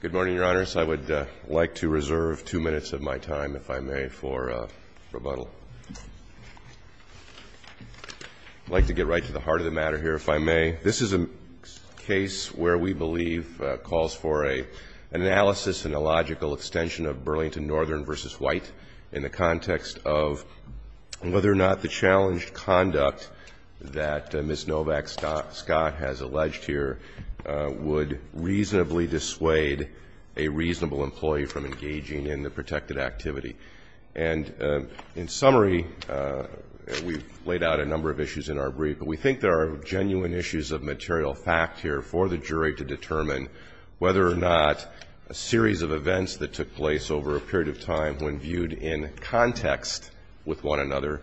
Good morning, Your Honors. I would like to reserve two minutes of my time, if I may, for rebuttal. I'd like to get right to the heart of the matter here, if I may. This is a case where we believe calls for an analysis and a logical extension of Burlington Northern v. White in the context of whether or not the challenged conduct that Ms. Novak-Scott has alleged here would reasonably dissuade a reasonable employee from engaging in the protected activity. And in summary, we've laid out a number of issues in our brief, but we think there are genuine issues of material fact here for the jury to determine whether or not a series of events that took place over a period of time when viewed in context with one another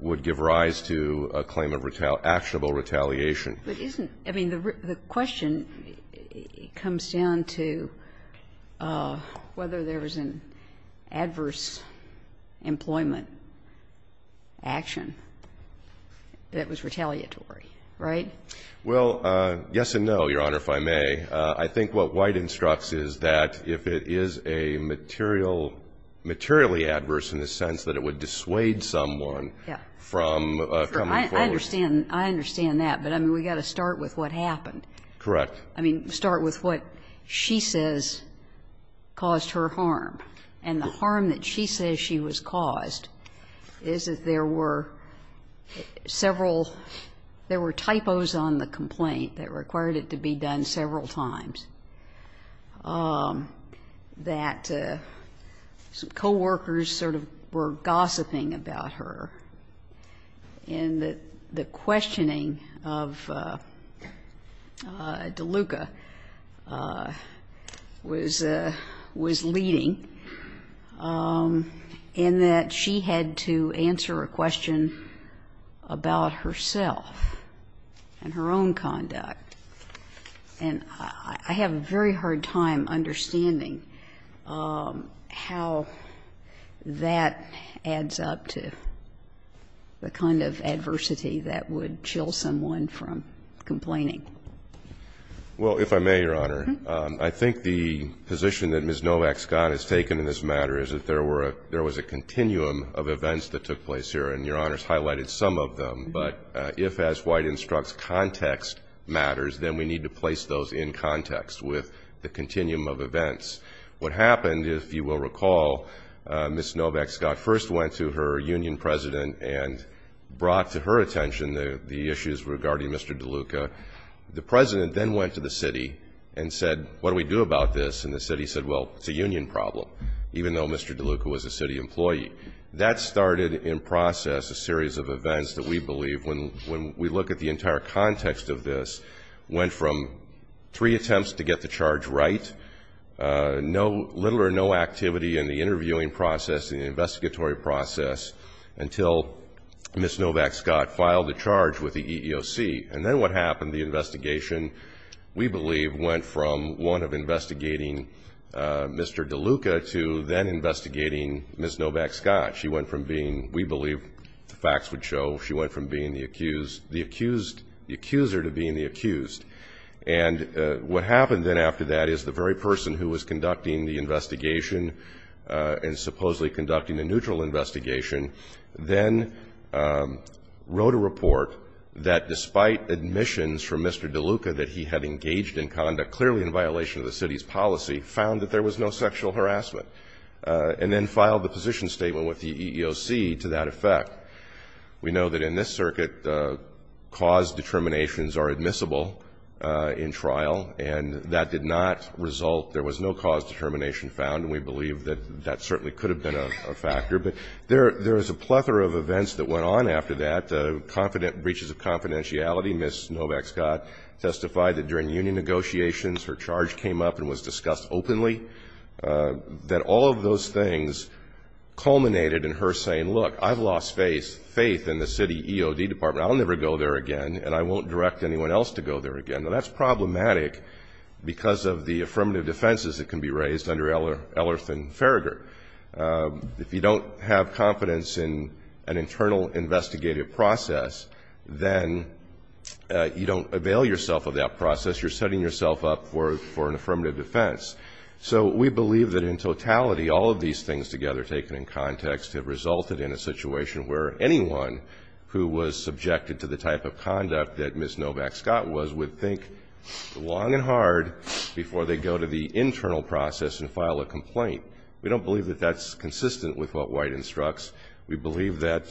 would give rise to a claim of actionable retaliation. But isn't, I mean, the question comes down to whether there was an adverse employment action that was retaliatory, right? Well, yes and no, Your Honor, if I may. I think what White instructs is that if it is a material, materially adverse in the sense that it would dissuade someone from coming forward. I understand that, but I mean, we've got to start with what happened. Correct. I mean, start with what she says caused her harm. And the harm that she says she was caused is that there were several, there were typos on the complaint that required it to be done several times, that some coworkers sort of were gossiping about her, and that the questioning of DeLuca was leading, and that she had to answer a question about herself and her own conduct. And I have a very hard time understanding how that adds up to the kind of adversity that would chill someone from complaining. Well, if I may, Your Honor, I think the position that Ms. Novak Scott has taken in this matter is that there were, there was a continuum of events that took place here, and Your Honor's highlighted some of them. But if, as White instructs, context matters, then we need to place those in context with the continuum of events. What happened, if you will recall, Ms. Novak Scott first went to her union president and brought to her attention the issues regarding Mr. DeLuca. The president then went to the city and said, what do we do about this? And the city said, well, it's a union problem, even though Mr. DeLuca was a city employee. That started in process a series of events that we believe, when we look at the entire context of this, went from three attempts to get the charge right, little or no activity in the interviewing process and the investigatory process, until Ms. Novak Scott filed a charge with the EEOC. And then what happened, the investigation, we believe, went from one of investigating Mr. DeLuca to then investigating Ms. Novak Scott. She went from being, we believe, the facts would show, she went from being the accused, the accuser to being the accused. And what happened then after that is the very person who was conducting the investigation and supposedly conducting the neutral investigation then wrote a report that, despite admissions from Mr. DeLuca that he had engaged in conduct clearly in violation of the city's policy, found that there was no sexual harassment, and then filed the position statement with the EEOC to that effect. We know that in this circuit, cause determinations are admissible in trial, and that did not result, there was no cause determination found. And we believe that that certainly could have been a factor. But there is a plethora of events that went on after that. The confident breaches of confidentiality, Ms. Novak Scott testified that during union negotiations, her charge came up and was discussed openly, that all of those things culminated in her saying, look, I've lost faith in the city EOD department. I'll never go there again, and I won't direct anyone else to go there again. Now, that's problematic because of the affirmative defenses that can be raised under Ellerth and Farragher. If you don't have confidence in an internal investigative process, then you don't avail yourself of that process. You're setting yourself up for an affirmative defense. So we believe that in totality, all of these things together, taken in context, have resulted in a situation where anyone who was subjected to the type of conduct that Ms. Novak Scott was would think long and hard before they go to the internal process and file a complaint. We don't believe that that's consistent with what White instructs. We believe that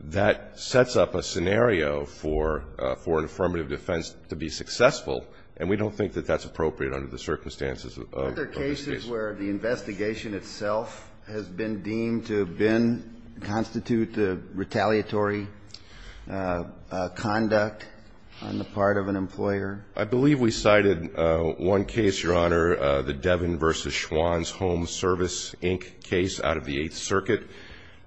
that sets up a scenario for an affirmative defense to be successful, and we don't think that that's appropriate under the circumstances of these cases. Are there cases where the investigation itself has been deemed to have been, constitute retaliatory conduct on the part of an employer? The Devin v. Schwann's Home Service Inc. case out of the Eighth Circuit,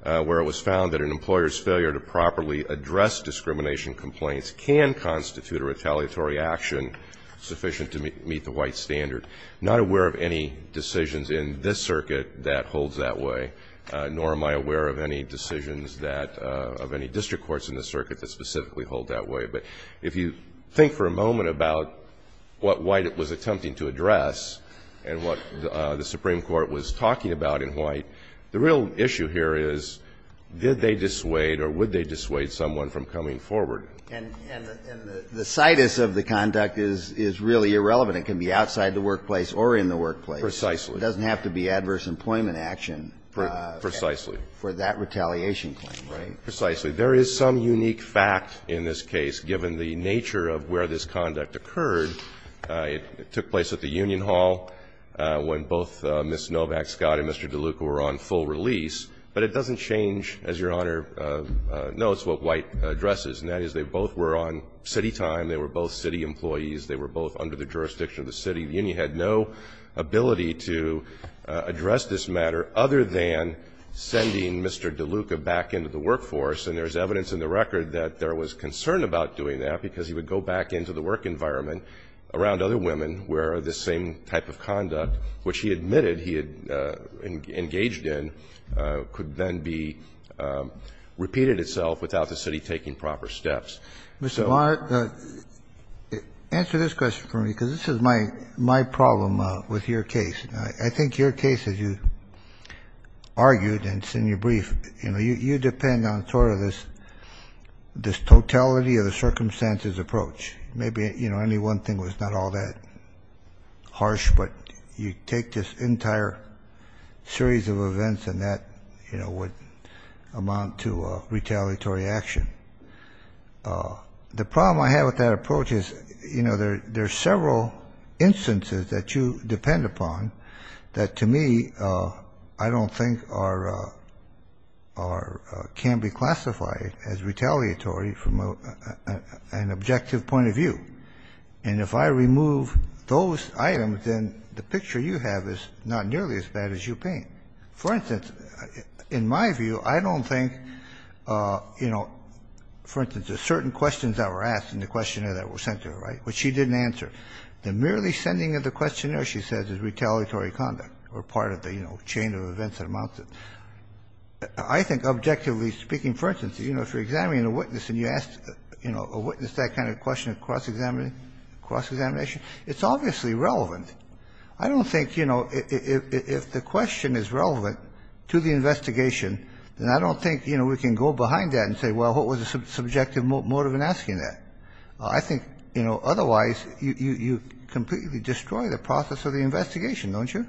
where it was found that an employer's failure to properly address discrimination complaints can constitute a retaliatory action sufficient to meet the White standard. I'm not aware of any decisions in this circuit that holds that way, nor am I aware of any decisions of any district courts in the circuit that specifically hold that way. But if you think for a moment about what White was attempting to address and what the Supreme Court was talking about in White, the real issue here is did they dissuade or would they dissuade someone from coming forward? And the situs of the conduct is really irrelevant. It can be outside the workplace or in the workplace. Precisely. It doesn't have to be adverse employment action. Precisely. For that retaliation claim, right? Precisely. There is some unique fact in this case, given the nature of where this conduct occurred. It took place at the union hall when both Ms. Novak-Scott and Mr. DeLuca were on full release. But it doesn't change, as Your Honor notes, what White addresses, and that is they both were on city time. They were both city employees. They were both under the jurisdiction of the city. The union had no ability to address this matter other than sending Mr. DeLuca back into the workforce. And there is evidence in the record that there was concern about doing that because he would go back into the work environment around other women where this same type of conduct, which he admitted he had engaged in, could then be repeated itself without the city taking proper steps. So. Kennedy. Answer this question for me, because this is my problem with your case. I think your case, as you argued and it's in your brief, you depend on sort of this totality of the circumstances approach. Maybe any one thing was not all that harsh, but you take this entire series of events and that would amount to retaliatory action. The problem I have with that approach is there are several instances that you depend upon that, to me, I don't think can be classified as retaliatory from an objective point of view. And if I remove those items, then the picture you have is not nearly as bad as you paint. For instance, in my view, I don't think, you know, for instance, there's certain questions that were asked in the questionnaire that were sent to her, right, which she didn't answer. The merely sending of the questionnaire, she says, is retaliatory conduct or part of the, you know, chain of events that amounts to. I think objectively speaking, for instance, you know, if you're examining a witness and you ask, you know, a witness that kind of question of cross-examination, it's obviously relevant. I don't think, you know, if the question is relevant to the investigation, then I don't think, you know, we can go behind that and say, well, what was the subjective motive in asking that? I think, you know, otherwise, you completely destroy the process of the investigation, don't you?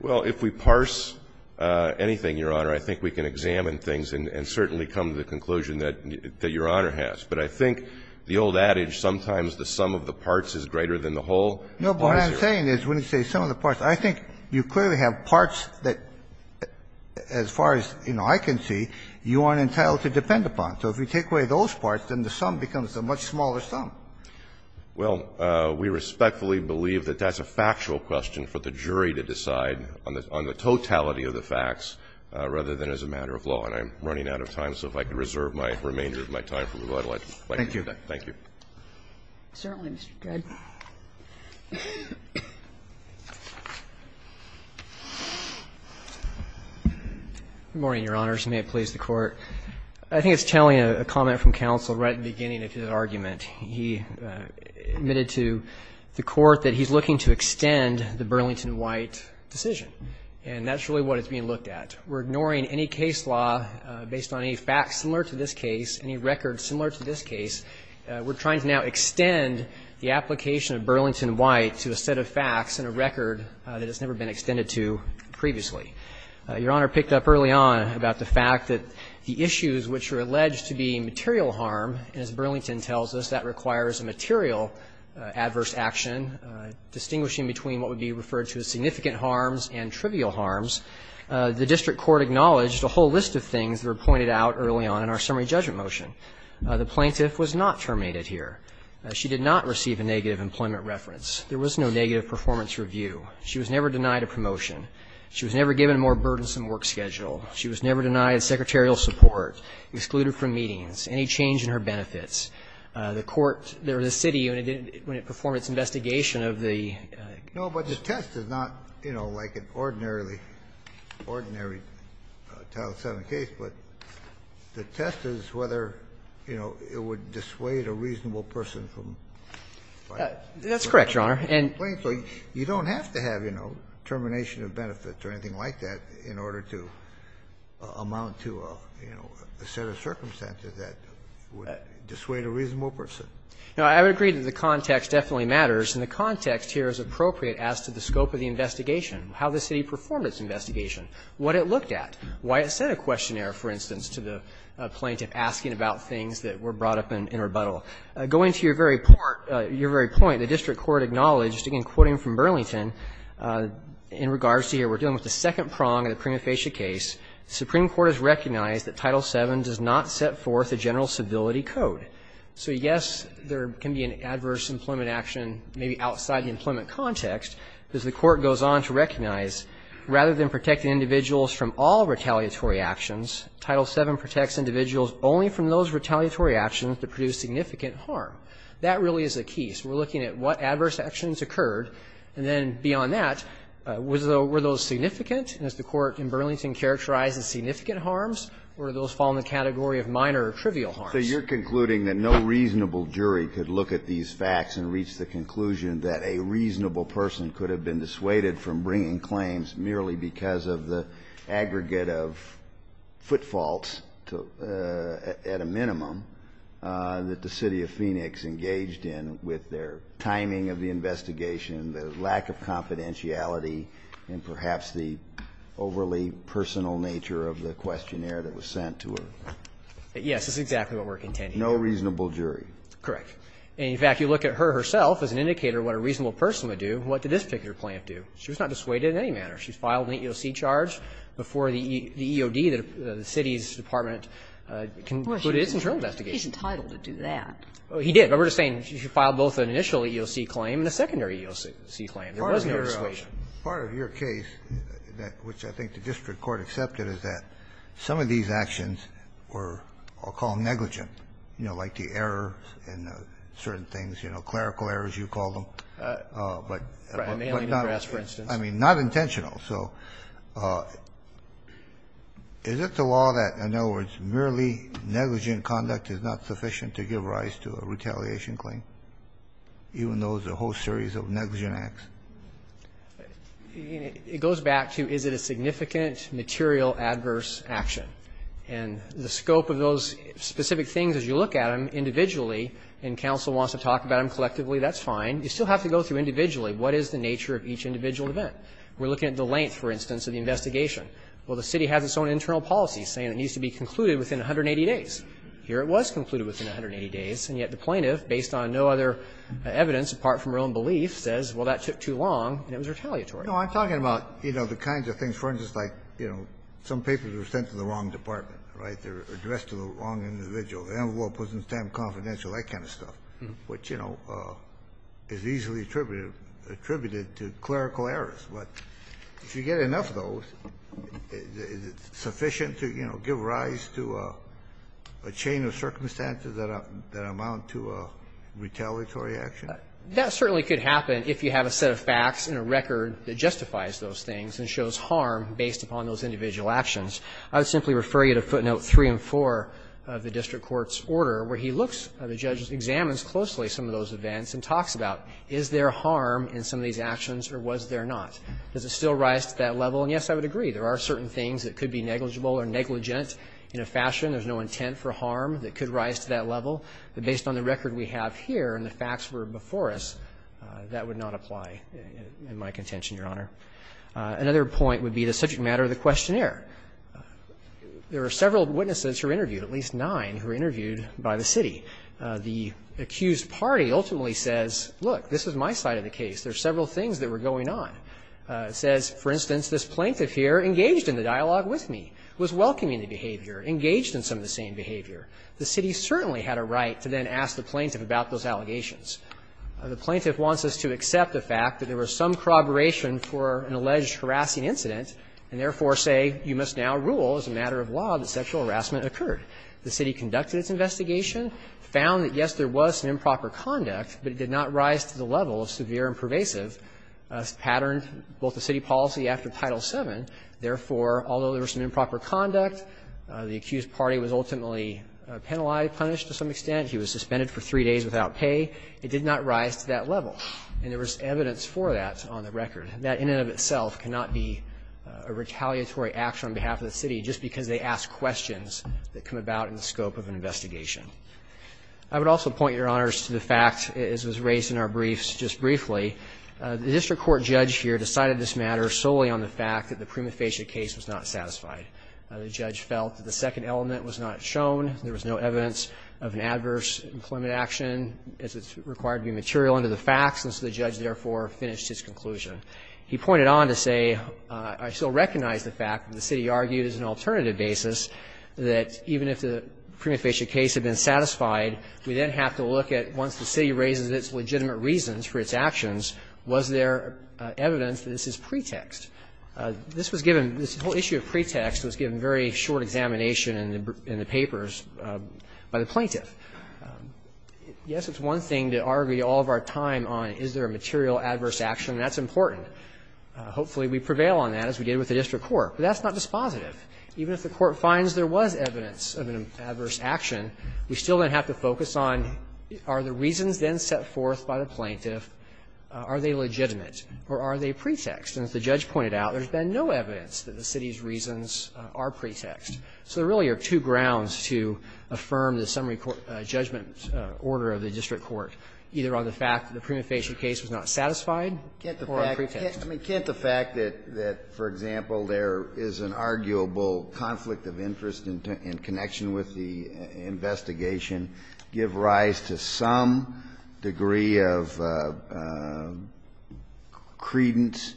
Well, if we parse anything, Your Honor, I think we can examine things and certainly come to the conclusion that Your Honor has. But I think the old adage, sometimes the sum of the parts is greater than the whole is greater. No, but what I'm saying is when you say sum of the parts, I think you clearly have parts that, as far as, you know, I can see, you aren't entitled to depend upon. So if we take away those parts, then the sum becomes a much smaller sum. Well, we respectfully believe that that's a factual question for the jury to decide on the totality of the facts rather than as a matter of law. And I'm running out of time, so if I could reserve my remainder of my time for rebuttal, I'd like to do that. Thank you. Certainly, Mr. Good. Good morning, Your Honors, and may it please the Court. I think it's telling a comment from counsel right at the beginning of his argument. He admitted to the Court that he's looking to extend the Burlington White decision, and that's really what it's being looked at. We're ignoring any case law based on any facts similar to this case, any records similar to this case. We're trying to now extend the application of Burlington White to a set of facts and a record that has never been extended to previously. Your Honor picked up early on about the fact that the issues which are alleged to be material harm, as Burlington tells us, that requires a material adverse action distinguishing between what would be referred to as significant harms and trivial harms. The district court acknowledged a whole list of things that were pointed out early on in our summary judgment motion. The plaintiff was not terminated here. She did not receive a negative employment reference. There was no negative performance review. She was never denied a promotion. She was never given a more burdensome work schedule. She was never denied secretarial support, excluded from meetings, any change in her benefits. The court or the city, when it performed its investigation of the case. No, but the test is not, you know, like an ordinarily Title VII case, but the test is whether, you know, it would dissuade a reasonable person from filing a complaint. That's correct, Your Honor. And you don't have to have, you know, termination of benefits or anything like that in order to amount to, you know, a set of circumstances that would dissuade a reasonable person. No, I would agree that the context definitely matters, and the context here is appropriate as to the scope of the investigation, how the city performed its investigation, what it looked at, why it sent a questionnaire, for instance, to the plaintiff asking about things that were brought up in rebuttal. Going to your very point, the district court acknowledged, again quoting from Burlington in regards to here, we're dealing with the second prong of the prima facie case, the Supreme Court has recognized that Title VII does not set forth a general civility code. So, yes, there can be an adverse employment action maybe outside the employment context, because the court goes on to recognize, rather than protecting individuals from all retaliatory actions, Title VII protects individuals only from those retaliatory actions that produce significant harm. That really is the key. So we're looking at what adverse actions occurred, and then beyond that, were those significant, as the court in Burlington characterized as significant harms, or did those fall in the category of minor or trivial harms? So you're concluding that no reasonable jury could look at these facts and reach the conclusion that a reasonable person could have been dissuaded from bringing claims merely because of the aggregate of foot faults to at a minimum. That the City of Phoenix engaged in with their timing of the investigation, the lack of confidentiality, and perhaps the overly personal nature of the questionnaire that was sent to her. Yes, that's exactly what we're contending. No reasonable jury. Correct. And, in fact, you look at her herself as an indicator of what a reasonable person would do. What did this particular plaintiff do? She was not dissuaded in any manner. She filed an EEOC charge before the EOD, the city's department, concluded its internal investigation. He's entitled to do that. He did. But we're just saying she filed both an initial EEOC claim and a secondary EEOC claim. There was no dissuasion. Part of your case, which I think the district court accepted, is that some of these actions were, I'll call them negligent, you know, like the error in certain things, you know, clerical errors, you call them, but not as, I mean, not intentional. So is it the law that, in other words, merely negligent conduct is not sufficient to give rise to a retaliation claim, even though there's a whole series of negligent acts? It goes back to is it a significant, material, adverse action. And the scope of those specific things, as you look at them individually, and counsel wants to talk about them collectively, that's fine. You still have to go through individually what is the nature of each individual event. We're looking at the length, for instance, of the investigation. Well, the city has its own internal policy saying it needs to be concluded within 180 days. Here it was concluded within 180 days, and yet the plaintiff, based on no other evidence apart from her own belief, says, well, that took too long, and it was retaliatory. Kennedy, No, I'm talking about, you know, the kinds of things, for instance, like, you know, some papers were sent to the wrong department, right? They're addressed to the wrong individual. The envelope wasn't stamped confidential, that kind of stuff, which, you know, is easily attributed to clerical errors. But if you get enough of those, is it sufficient to, you know, give rise to a chain of circumstances that amount to a retaliatory action? That certainly could happen if you have a set of facts and a record that justifies those things and shows harm based upon those individual actions. I would simply refer you to footnote 3 and 4 of the district court's order, where he looks, the judge examines closely some of those events and talks about is there harm in some of these actions, or was there not? Does it still rise to that level? And, yes, I would agree. There are certain things that could be negligible or negligent in a fashion. There's no intent for harm that could rise to that level. But based on the record we have here and the facts that were before us, that would not apply in my contention, Your Honor. Another point would be the subject matter of the questionnaire. There are several witnesses who are interviewed, at least nine, who are interviewed by the city. The accused party ultimately says, look, this is my side of the case. There are several things that were going on. It says, for instance, this plaintiff here engaged in the dialogue with me, was welcoming the behavior, engaged in some of the same behavior. The city certainly had a right to then ask the plaintiff about those allegations. The plaintiff wants us to accept the fact that there was some corroboration for an alleged harassing incident, and therefore say you must now rule as a matter of law that sexual harassment occurred. The city conducted its investigation, found that, yes, there was some improper conduct, but it did not rise to the level of severe and pervasive patterned both the city policy after Title VII. Therefore, although there was some improper conduct, the accused party was ultimately penalized, punished to some extent. He was suspended for three days without pay. It did not rise to that level. And there was evidence for that on the record. That in and of itself cannot be a retaliatory action on behalf of the city just because they ask questions that come about in the scope of an investigation. I would also point, Your Honors, to the fact, as was raised in our briefs just briefly, the district court judge here decided this matter solely on the fact that the prima facie case was not satisfied. The judge felt that the second element was not shown. There was no evidence of an adverse employment action as it's required to be material under the facts, and so the judge therefore finished his conclusion. He pointed on to say, I still recognize the fact that the city argued as an alternative basis, that even if the prima facie case had been satisfied, we then have to look at once the city raises its legitimate reasons for its actions, was there evidence that this is pretext? This was given this whole issue of pretext was given very short examination in the papers by the plaintiff. Yes, it's one thing to argue all of our time on is there a material adverse action, and that's important. Hopefully we prevail on that as we did with the district court. But that's not dispositive. Even if the court finds there was evidence of an adverse action, we still then have to focus on are the reasons then set forth by the plaintiff, are they legitimate or are they pretext? And as the judge pointed out, there's been no evidence that the city's reasons are pretext. So there really are two grounds to affirm the summary court judgment order of the district court, either on the fact that the prima facie case was not satisfied or on pretext. I mean, can't the fact that, for example, there is an arguable conflict of interest in connection with the investigation give rise to some degree of credence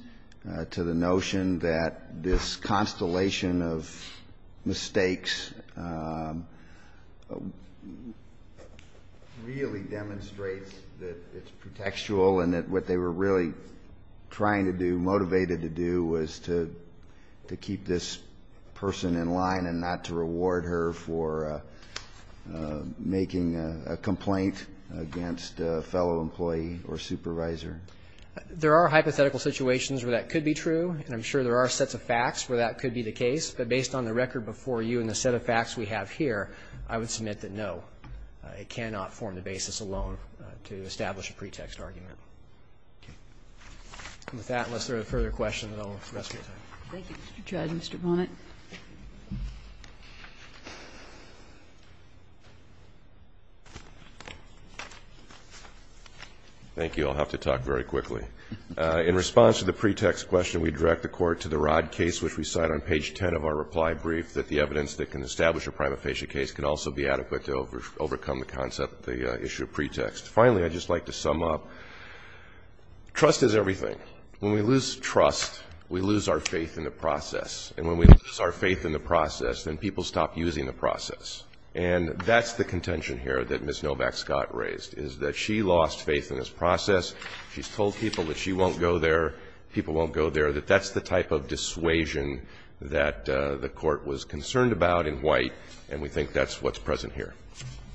to the notion that this constellation of mistakes really demonstrates that it's pretextual and that what they were really trying to do, motivated to do, was to keep this person in line and not to reward her for making a complaint against a fellow employee or supervisor? There are hypothetical situations where that could be true, and I'm sure there are sets of facts where that could be the case. But based on the record before you and the set of facts we have here, I would submit that no, it cannot form the basis alone to establish a pretext argument. With that, unless there are further questions, I'll rest my time. Thank you, Mr. Judge. Mr. Bonnet. Thank you. I'll have to talk very quickly. In response to the pretext question, we direct the Court to the Rodd case, which we cite on page 10 of our reply brief, that the evidence that can establish a prima facie case can also be adequate to overcome the concept of the issue of pretext. Finally, I'd just like to sum up, trust is everything. When we lose trust, we lose our faith in the process. And when we lose our faith in the process, then people stop using the process. And that's the contention here that Ms. Novak-Scott raised, is that she lost faith in this process. She's told people that she won't go there, people won't go there, that that's the type of dissuasion that the Court was concerned about in White, and we think that's what's present here.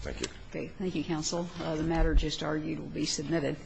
Thank you. Okay. Thank you, counsel. The matter just argued will be submitted.